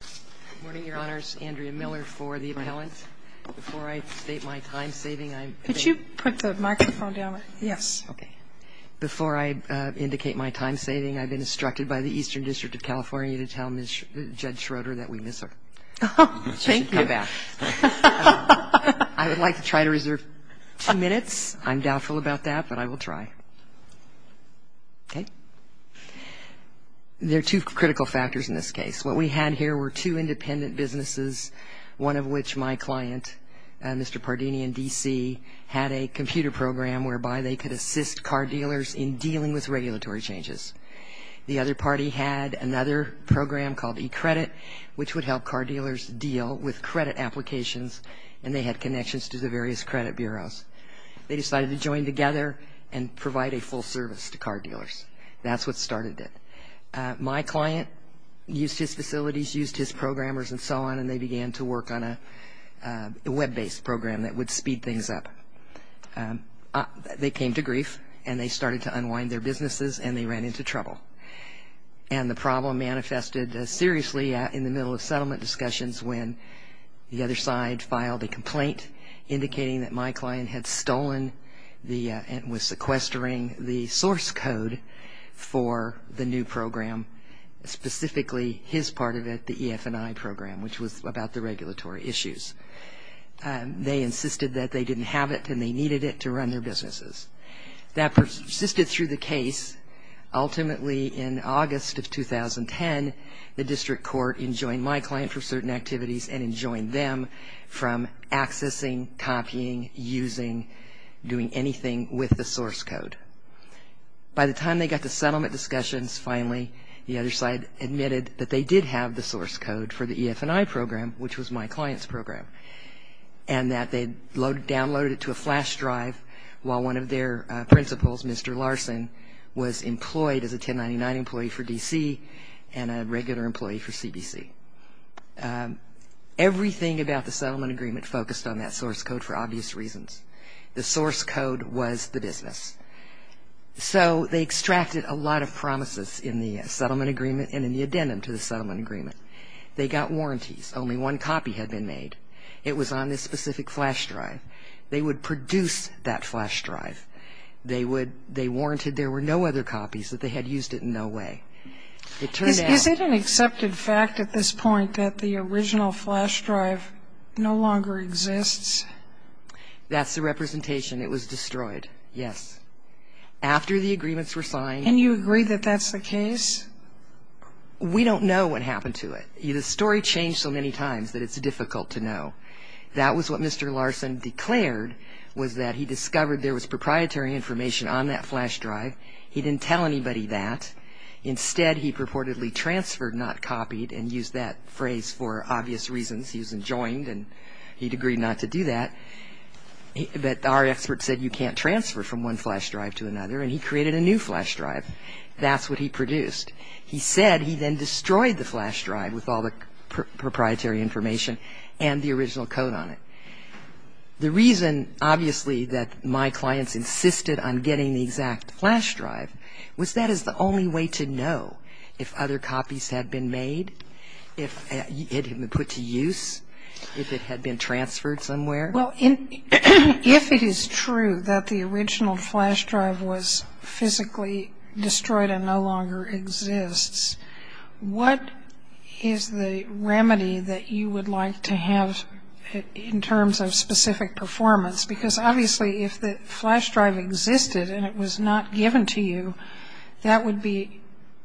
Good morning, Your Honors. Andrea Miller for the appellant. Before I state my time saving, I'm Could you put the microphone down? Yes. Before I indicate my time saving, I've been instructed by the Eastern District of California to tell Judge Schroeder that we miss her. Thank you. I would like to try to reserve two minutes. I'm doubtful about that, but I will try. Okay. There are two critical factors in this case. What we had here were two independent businesses, one of which my client, Mr. Pardini in D.C., had a computer program whereby they could assist car dealers in dealing with regulatory changes. The other party had another program called eCredit, which would help car dealers deal with credit applications, and they had connections to the various credit bureaus. They decided to join together and provide a full service to car dealers. That's what started it. My client used his facilities, used his programmers, and so on, and they began to work on a web-based program that would speed things up. They came to grief, and they started to unwind their businesses, and they ran into trouble. And the problem manifested seriously in the middle of settlement discussions when the other side filed a complaint indicating that my client had stolen and was sequestering the source code for the new program, specifically his part of it, the EF&I program, which was about the regulatory issues. They insisted that they didn't have it and they needed it to run their businesses. That persisted through the case. Ultimately, in August of 2010, the district court enjoined my client from certain activities and enjoined them from accessing, copying, using, doing anything with the source code. By the time they got to settlement discussions, finally, the other side admitted that they did have the source code for the EF&I program, which was my client's program, and that they downloaded it to a flash drive while one of their principals, Mr. Larson, was employed as a 1099 employee for D.C. and a regular employee for CBC. Everything about the settlement agreement focused on that source code for obvious reasons. The source code was the business. So they extracted a lot of promises in the settlement agreement and in the addendum to the settlement agreement. They got warranties. Only one copy had been made. It was on this specific flash drive. They would produce that flash drive. They warranted there were no other copies, that they had used it in no way. Is it an accepted fact at this point that the original flash drive no longer exists? That's the representation. It was destroyed, yes, after the agreements were signed. And you agree that that's the case? We don't know what happened to it. The story changed so many times that it's difficult to know. That was what Mr. Larson declared was that he discovered there was proprietary information on that flash drive. He didn't tell anybody that. Instead, he purportedly transferred, not copied, and used that phrase for obvious reasons. He was enjoined, and he'd agree not to do that. But our expert said you can't transfer from one flash drive to another, and he created a new flash drive. That's what he produced. He said he then destroyed the flash drive with all the proprietary information and the original code on it. The reason, obviously, that my clients insisted on getting the exact flash drive was that is the only way to know if other copies had been made, if it had been put to use, if it had been transferred somewhere. Well, if it is true that the original flash drive was physically destroyed and no longer exists, what is the remedy that you would like to have in terms of specific performance? Because, obviously, if the flash drive existed and it was not given to you, that would be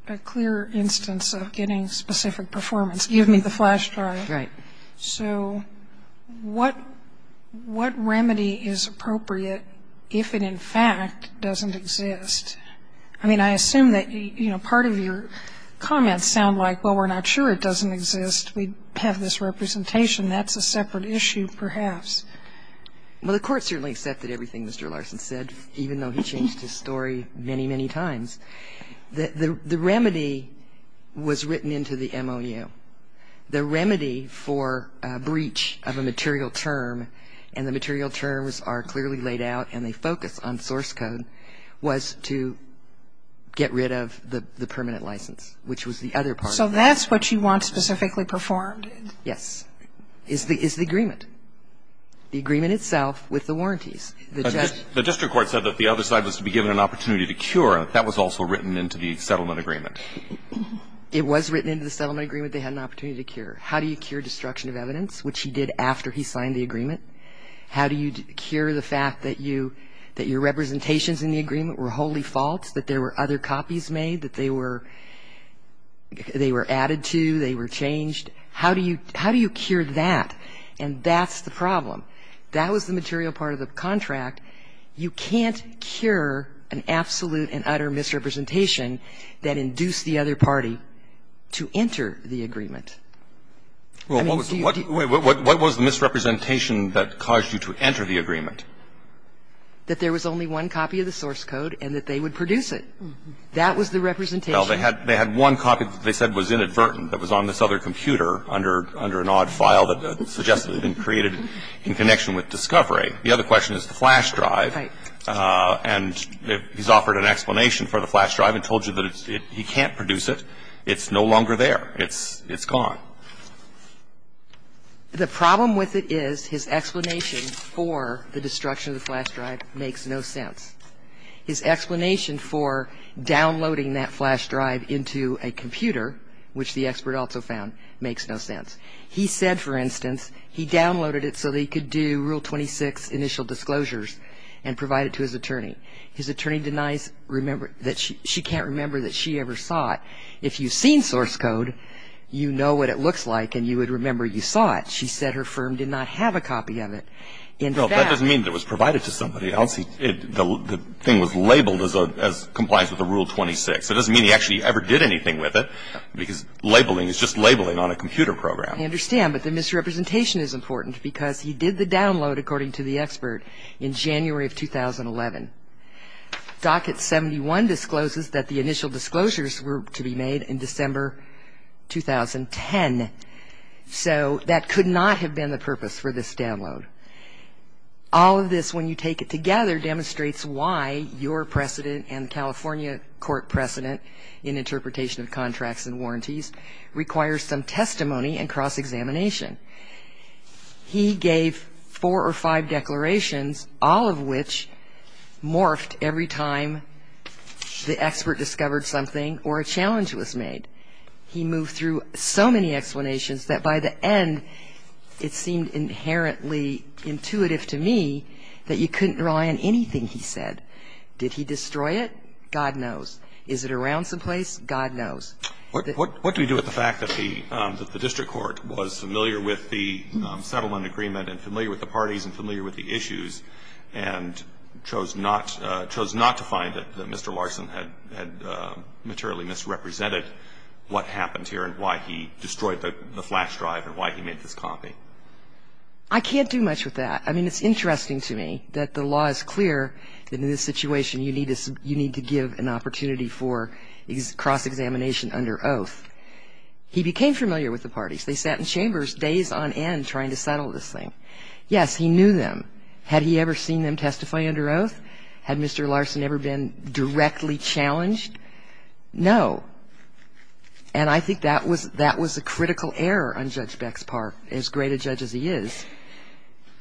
a clear instance of getting specific performance. Give me the flash drive. Right. So what remedy is appropriate if it, in fact, doesn't exist? I mean, I assume that, you know, part of your comments sound like, well, we're not sure it doesn't exist. We have this representation. That's a separate issue, perhaps. Well, the Court certainly accepted everything Mr. Larson said, even though he changed his story many, many times. The remedy was written into the MOU. The remedy for breach of a material term, and the material terms are clearly laid out and they focus on source code, was to get rid of the permanent license, which was the other part. So that's what you want specifically performed? Yes, is the agreement, the agreement itself with the warranties. The district court said that the other side was to be given an opportunity to cure. That was also written into the settlement agreement. It was written into the settlement agreement they had an opportunity to cure. How do you cure destruction of evidence, which he did after he signed the agreement? How do you cure the fact that your representations in the agreement were wholly false, that there were other copies made, that they were added to, they were changed? How do you cure that? And that's the problem. That was the material part of the contract. You can't cure an absolute and utter misrepresentation that induced the other party to enter the agreement. Well, what was the misrepresentation that caused you to enter the agreement? That there was only one copy of the source code and that they would produce it. That was the representation. Well, they had one copy that they said was inadvertent that was on this other computer under an odd file that suggested it had been created in connection with discovery. The other question is the flash drive. Right. And he's offered an explanation for the flash drive and told you that he can't produce it. It's no longer there. It's gone. The problem with it is his explanation for the destruction of the flash drive makes no sense. His explanation for downloading that flash drive into a computer, which the expert also found, makes no sense. He said, for instance, he downloaded it so that he could do Rule 26 initial disclosures and provide it to his attorney. His attorney denies that she can't remember that she ever saw it. If you've seen source code, you know what it looks like and you would remember you saw it. She said her firm did not have a copy of it. That doesn't mean it was provided to somebody else. The thing was labeled as complies with the Rule 26. That doesn't mean he actually ever did anything with it, because labeling is just labeling on a computer program. I understand, but the misrepresentation is important because he did the download, according to the expert, in January of 2011. Docket 71 discloses that the initial disclosures were to be made in December 2010. So that could not have been the purpose for this download. All of this, when you take it together, demonstrates why your precedent and California court precedent in interpretation of contracts and warranties requires some testimony and cross-examination. He gave four or five declarations, all of which morphed every time the expert discovered something or a challenge was made. He moved through so many explanations that by the end, it seemed inherently intuitive to me that you couldn't rely on anything he said. Did he destroy it? God knows. Is it around someplace? God knows. What do we do with the fact that the district court was familiar with the settlement agreement and familiar with the parties and familiar with the issues and chose not to find that Mr. Larson had materially misrepresented what happened here and why he destroyed the flash drive and why he made this copy? I can't do much with that. I mean, it's interesting to me that the law is clear that in this situation, you need to give an opportunity for cross-examination under oath. He became familiar with the parties. They sat in chambers days on end trying to settle this thing. Yes, he knew them. Had he ever seen them testify under oath? Had Mr. Larson ever been directly challenged? No. And I think that was a critical error on Judge Beck's part, as great a judge as he is.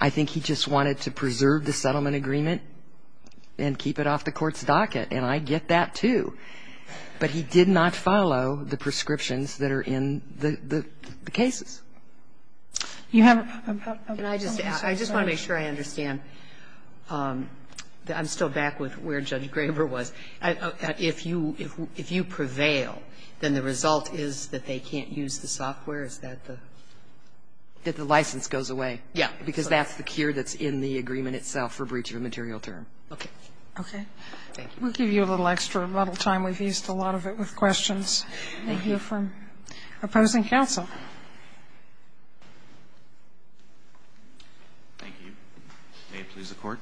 I think he just wanted to preserve the settlement agreement and keep it off the court's docket. And I get that, too. But he did not follow the prescriptions that are in the cases. You have a point. I just want to make sure I understand. I'm still back with where Judge Graber was. If you prevail, then the result is that they can't use the software? That the license goes away. Yes. Because that's the cure that's in the agreement itself for breach of a material term. Okay. Okay. Thank you. We'll give you a little extra time. We've used a lot of it with questions. Thank you. We'll hear from opposing counsel. Thank you. May it please the Court.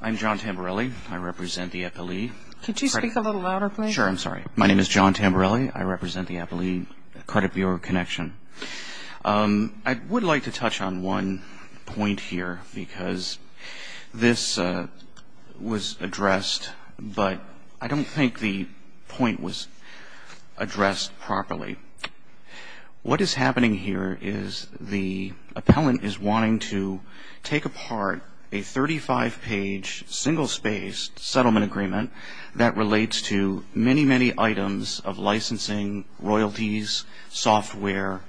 I'm John Tamberelli. I represent the FLE. Could you speak a little louder, please? Sure. I'm sorry. My name is John Tamberelli. I represent the FLE Credit Bureau Connection. I would like to touch on one point here because this was addressed, but I don't think the point was addressed properly. What is happening here is the appellant is wanting to take apart a 35-page, single-spaced settlement agreement that relates to many, many items of licensing, royalties, software,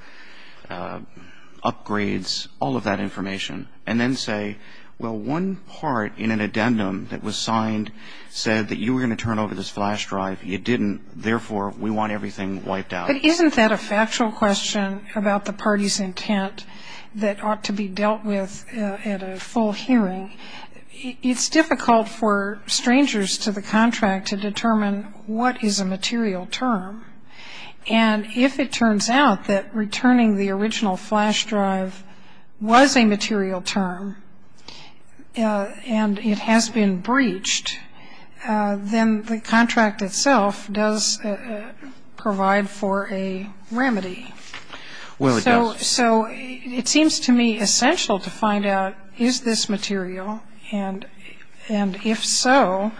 upgrades, all of that information, and then say, well, one part in an addendum that was signed said that you were going to turn over this flash drive. You didn't. Therefore, we want everything wiped out. But isn't that a factual question about the party's intent that ought to be dealt with at a full hearing? It's difficult for strangers to the contract to determine what is a material term. And if it turns out that returning the original flash drive was a material term and it has been breached, then the contract itself does provide for a remedy. Well, it does. But it seems to me essential to find out is this material, and if so,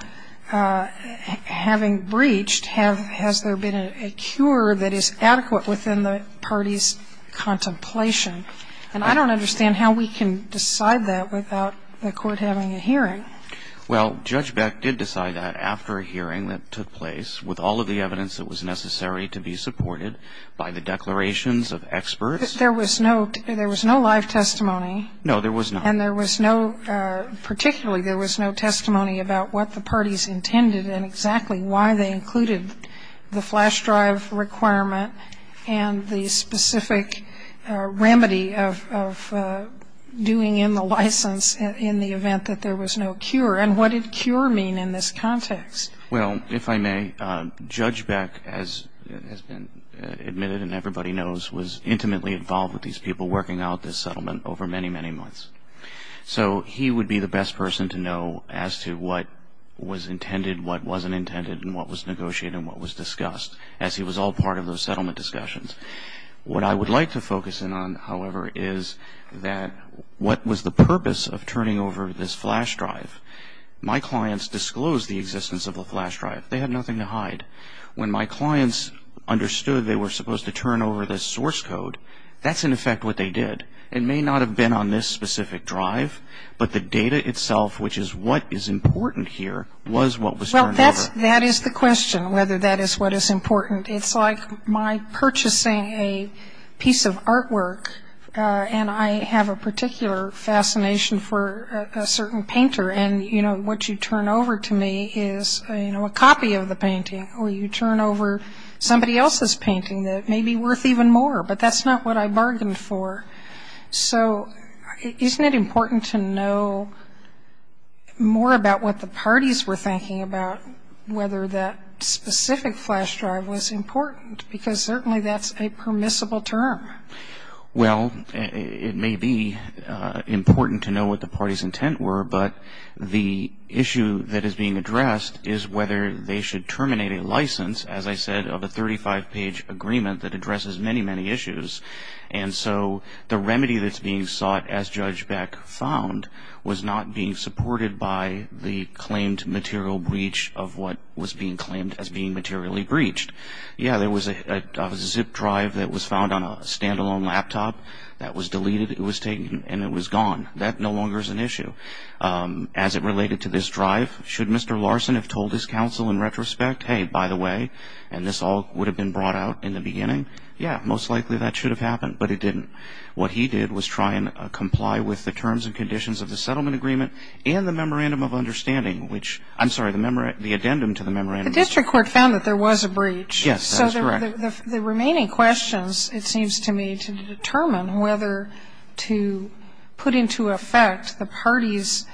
having breached, has there been a cure that is adequate within the party's contemplation? And I don't understand how we can decide that without the Court having a hearing. Well, Judge Beck did decide that after a hearing that took place with all of the evidence that was necessary to be supported by the declarations of experts. There was no live testimony. No, there was not. And there was no, particularly there was no testimony about what the parties intended and exactly why they included the flash drive requirement and the specific remedy of doing in the license in the event that there was no cure. And what did cure mean in this context? Well, if I may, Judge Beck, as has been admitted and everybody knows, was intimately involved with these people working out this settlement over many, many months. So he would be the best person to know as to what was intended, what wasn't intended, and what was negotiated and what was discussed, as he was all part of those settlement discussions. What I would like to focus in on, however, is that what was the purpose of turning over this flash drive? My clients disclosed the existence of a flash drive. They had nothing to hide. When my clients understood they were supposed to turn over this source code, that's in effect what they did. It may not have been on this specific drive, but the data itself, which is what is important here, was what was turned over. Well, that is the question, whether that is what is important. It's like my purchasing a piece of artwork, and I have a particular fascination for a certain painter, and what you turn over to me is a copy of the painting, or you turn over somebody else's painting that may be worth even more, but that's not what I bargained for. So isn't it important to know more about what the parties were thinking about, whether that specific flash drive was important? Because certainly that's a permissible term. Well, it may be important to know what the parties' intent were, but the issue that is being addressed is whether they should terminate a license, as I said, of a 35-page agreement that addresses many, many issues. And so the remedy that's being sought, as Judge Beck found, was not being supported by the claimed material breach of what was being claimed as being materially breached. Yeah, there was a zip drive that was found on a stand-alone laptop that was deleted. It was taken, and it was gone. That no longer is an issue. As it related to this drive, should Mr. Larson have told his counsel in retrospect, hey, by the way, and this all would have been brought out in the beginning, yeah, most likely that should have happened, but it didn't. What he did was try and comply with the terms and conditions of the settlement agreement and the memorandum of understanding, which, I'm sorry, the addendum to the memorandum. The district court found that there was a breach. Yes, that is correct. So the remaining questions, it seems to me, to determine whether to put into effect the party's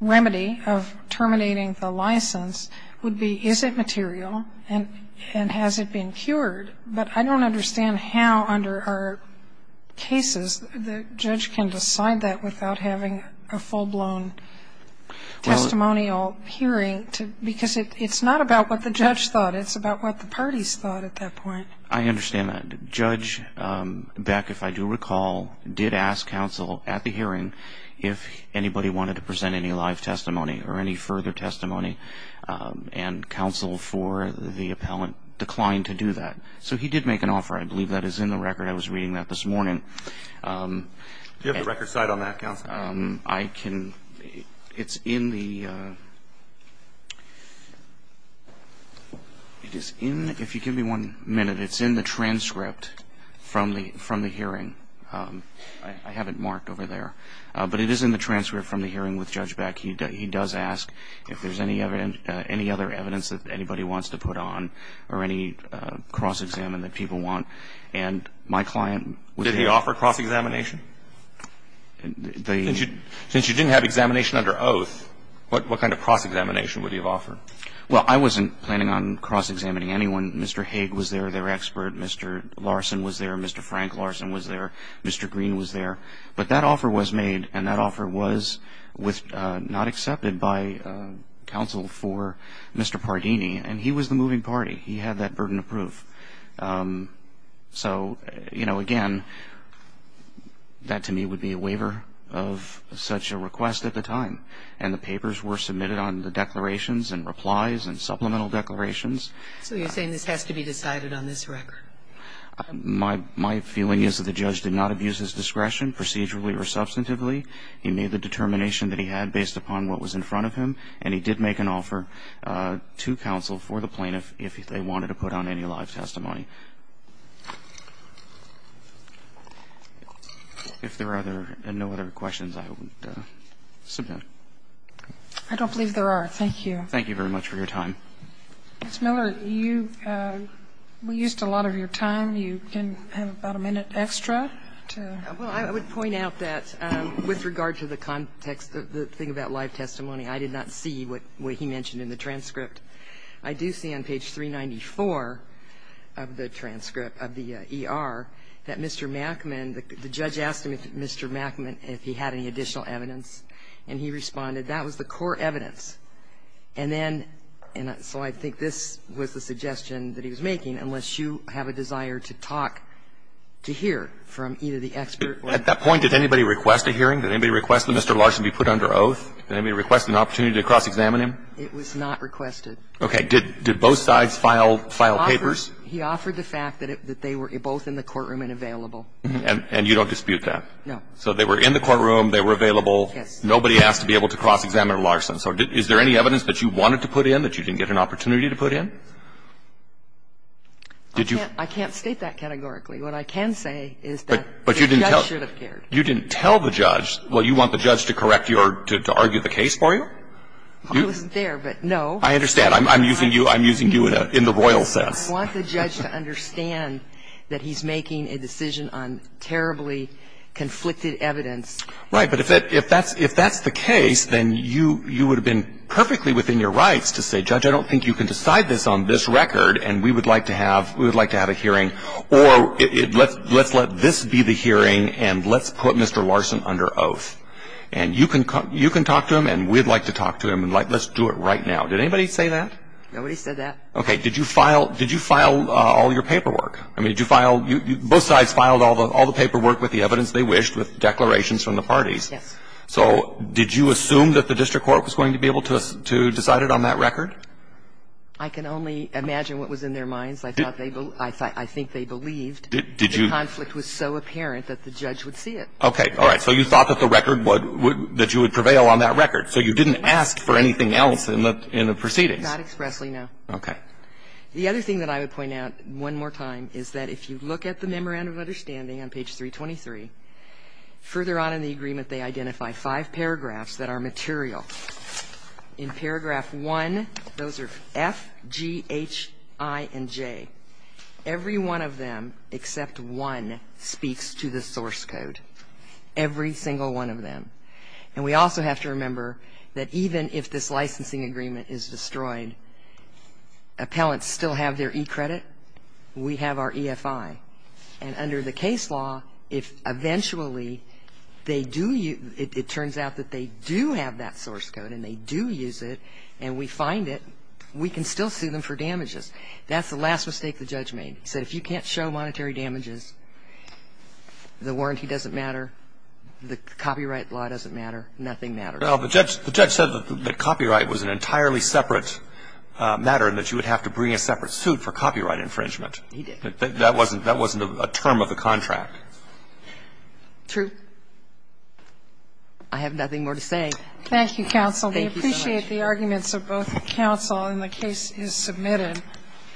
remedy of terminating the license would be is it material and has it been cured. But I don't understand how under our cases the judge can decide that without having a full-blown testimonial hearing. Because it's not about what the judge thought. It's about what the parties thought at that point. I understand that. Judge Beck, if I do recall, did ask counsel at the hearing if anybody wanted to present any live testimony or any further testimony, and counsel for the appellant declined to do that. So he did make an offer. I believe that is in the record. I was reading that this morning. Do you have the record cite on that, counsel? It's in the transcript from the hearing. I have it marked over there. But it is in the transcript from the hearing with Judge Beck. He does ask if there's any other evidence that anybody wants to put on or any cross-examine that people want. And my client was able to do that. Did he offer cross-examination? Since you didn't have examination under oath, what kind of cross-examination would he have offered? Well, I wasn't planning on cross-examining anyone. Mr. Haig was there, their expert. Mr. Larson was there. Mr. Frank Larson was there. Mr. Green was there. But that offer was made, and that offer was not accepted by counsel for Mr. Pardini. And he was the moving party. He had that burden of proof. So, you know, again, that to me would be a waiver of such a request at the time. And the papers were submitted on the declarations and replies and supplemental declarations. So you're saying this has to be decided on this record? My feeling is that the judge did not abuse his discretion procedurally or substantively. He made the determination that he had based upon what was in front of him, and he did make an offer to counsel for the plaintiff if they wanted to put on any live testimony. If there are no other questions, I would submit. I don't believe there are. Thank you. Thank you very much for your time. Ms. Miller, you've used a lot of your time. You can have about a minute extra to. Well, I would point out that with regard to the context, the thing about live testimony, I did not see what he mentioned in the transcript. I do see on page 394 of the transcript of the ER that Mr. Mackman, the judge asked him if Mr. Mackman, if he had any additional evidence, and he responded, that was the core evidence. And then so I think this was the suggestion that he was making, unless you have a desire to talk, to hear from either the expert. At that point, did anybody request a hearing? Did anybody request that Mr. Larson be put under oath? Did anybody request an opportunity to cross-examine him? It was not requested. Okay. Did both sides file papers? He offered the fact that they were both in the courtroom and available. And you don't dispute that? No. So they were in the courtroom, they were available. Yes. Nobody asked to be able to cross-examine Larson. So is there any evidence that you wanted to put in that you didn't get an opportunity to put in? I can't state that categorically. What I can say is that the judge should have cared. But you didn't tell the judge. Well, you want the judge to correct your, to argue the case for you? It wasn't there, but no. I understand. I'm using you, I'm using you in the royal sense. I want the judge to understand that he's making a decision on terribly conflicted evidence. Right. But if that's the case, then you would have been perfectly within your rights to say, Judge, I don't think you can decide this on this record, and we would like to have, we would like to have a hearing. Or let's let this be the hearing, and let's put Mr. Larson under oath. And you can talk to him, and we'd like to talk to him, and let's do it right now. Did anybody say that? Nobody said that. Okay. Did you file all your paperwork? I mean, did you file, both sides filed all the paperwork with the evidence they wished, with declarations from the parties. Yes. So did you assume that the district court was going to be able to decide it on that record? I can only imagine what was in their minds. I thought they, I think they believed the conflict was so apparent that the judge would see it. Okay. All right. So you thought that the record would, that you would prevail on that record. So you didn't ask for anything else in the proceedings. Not expressly, no. Okay. The other thing that I would point out one more time is that if you look at the memorandum of understanding on page 323, further on in the agreement, they identify five paragraphs that are material. In paragraph 1, those are F, G, H, I, and J. Every one of them except one speaks to the source code. Every single one of them. And we also have to remember that even if this licensing agreement is destroyed, appellants still have their e-credit. We have our EFI. And under the case law, if eventually they do, it turns out that they do have that source code and they do use it and we find it, we can still sue them for damages. That's the last mistake the judge made. He said if you can't show monetary damages, the warranty doesn't matter, the copyright law doesn't matter, nothing matters. Well, the judge said that copyright was an entirely separate matter and that you would have to bring a separate suit for copyright infringement. He did. That wasn't a term of the contract. True. I have nothing more to say. Thank you, counsel. I appreciate the arguments of both counsel. And the case is submitted.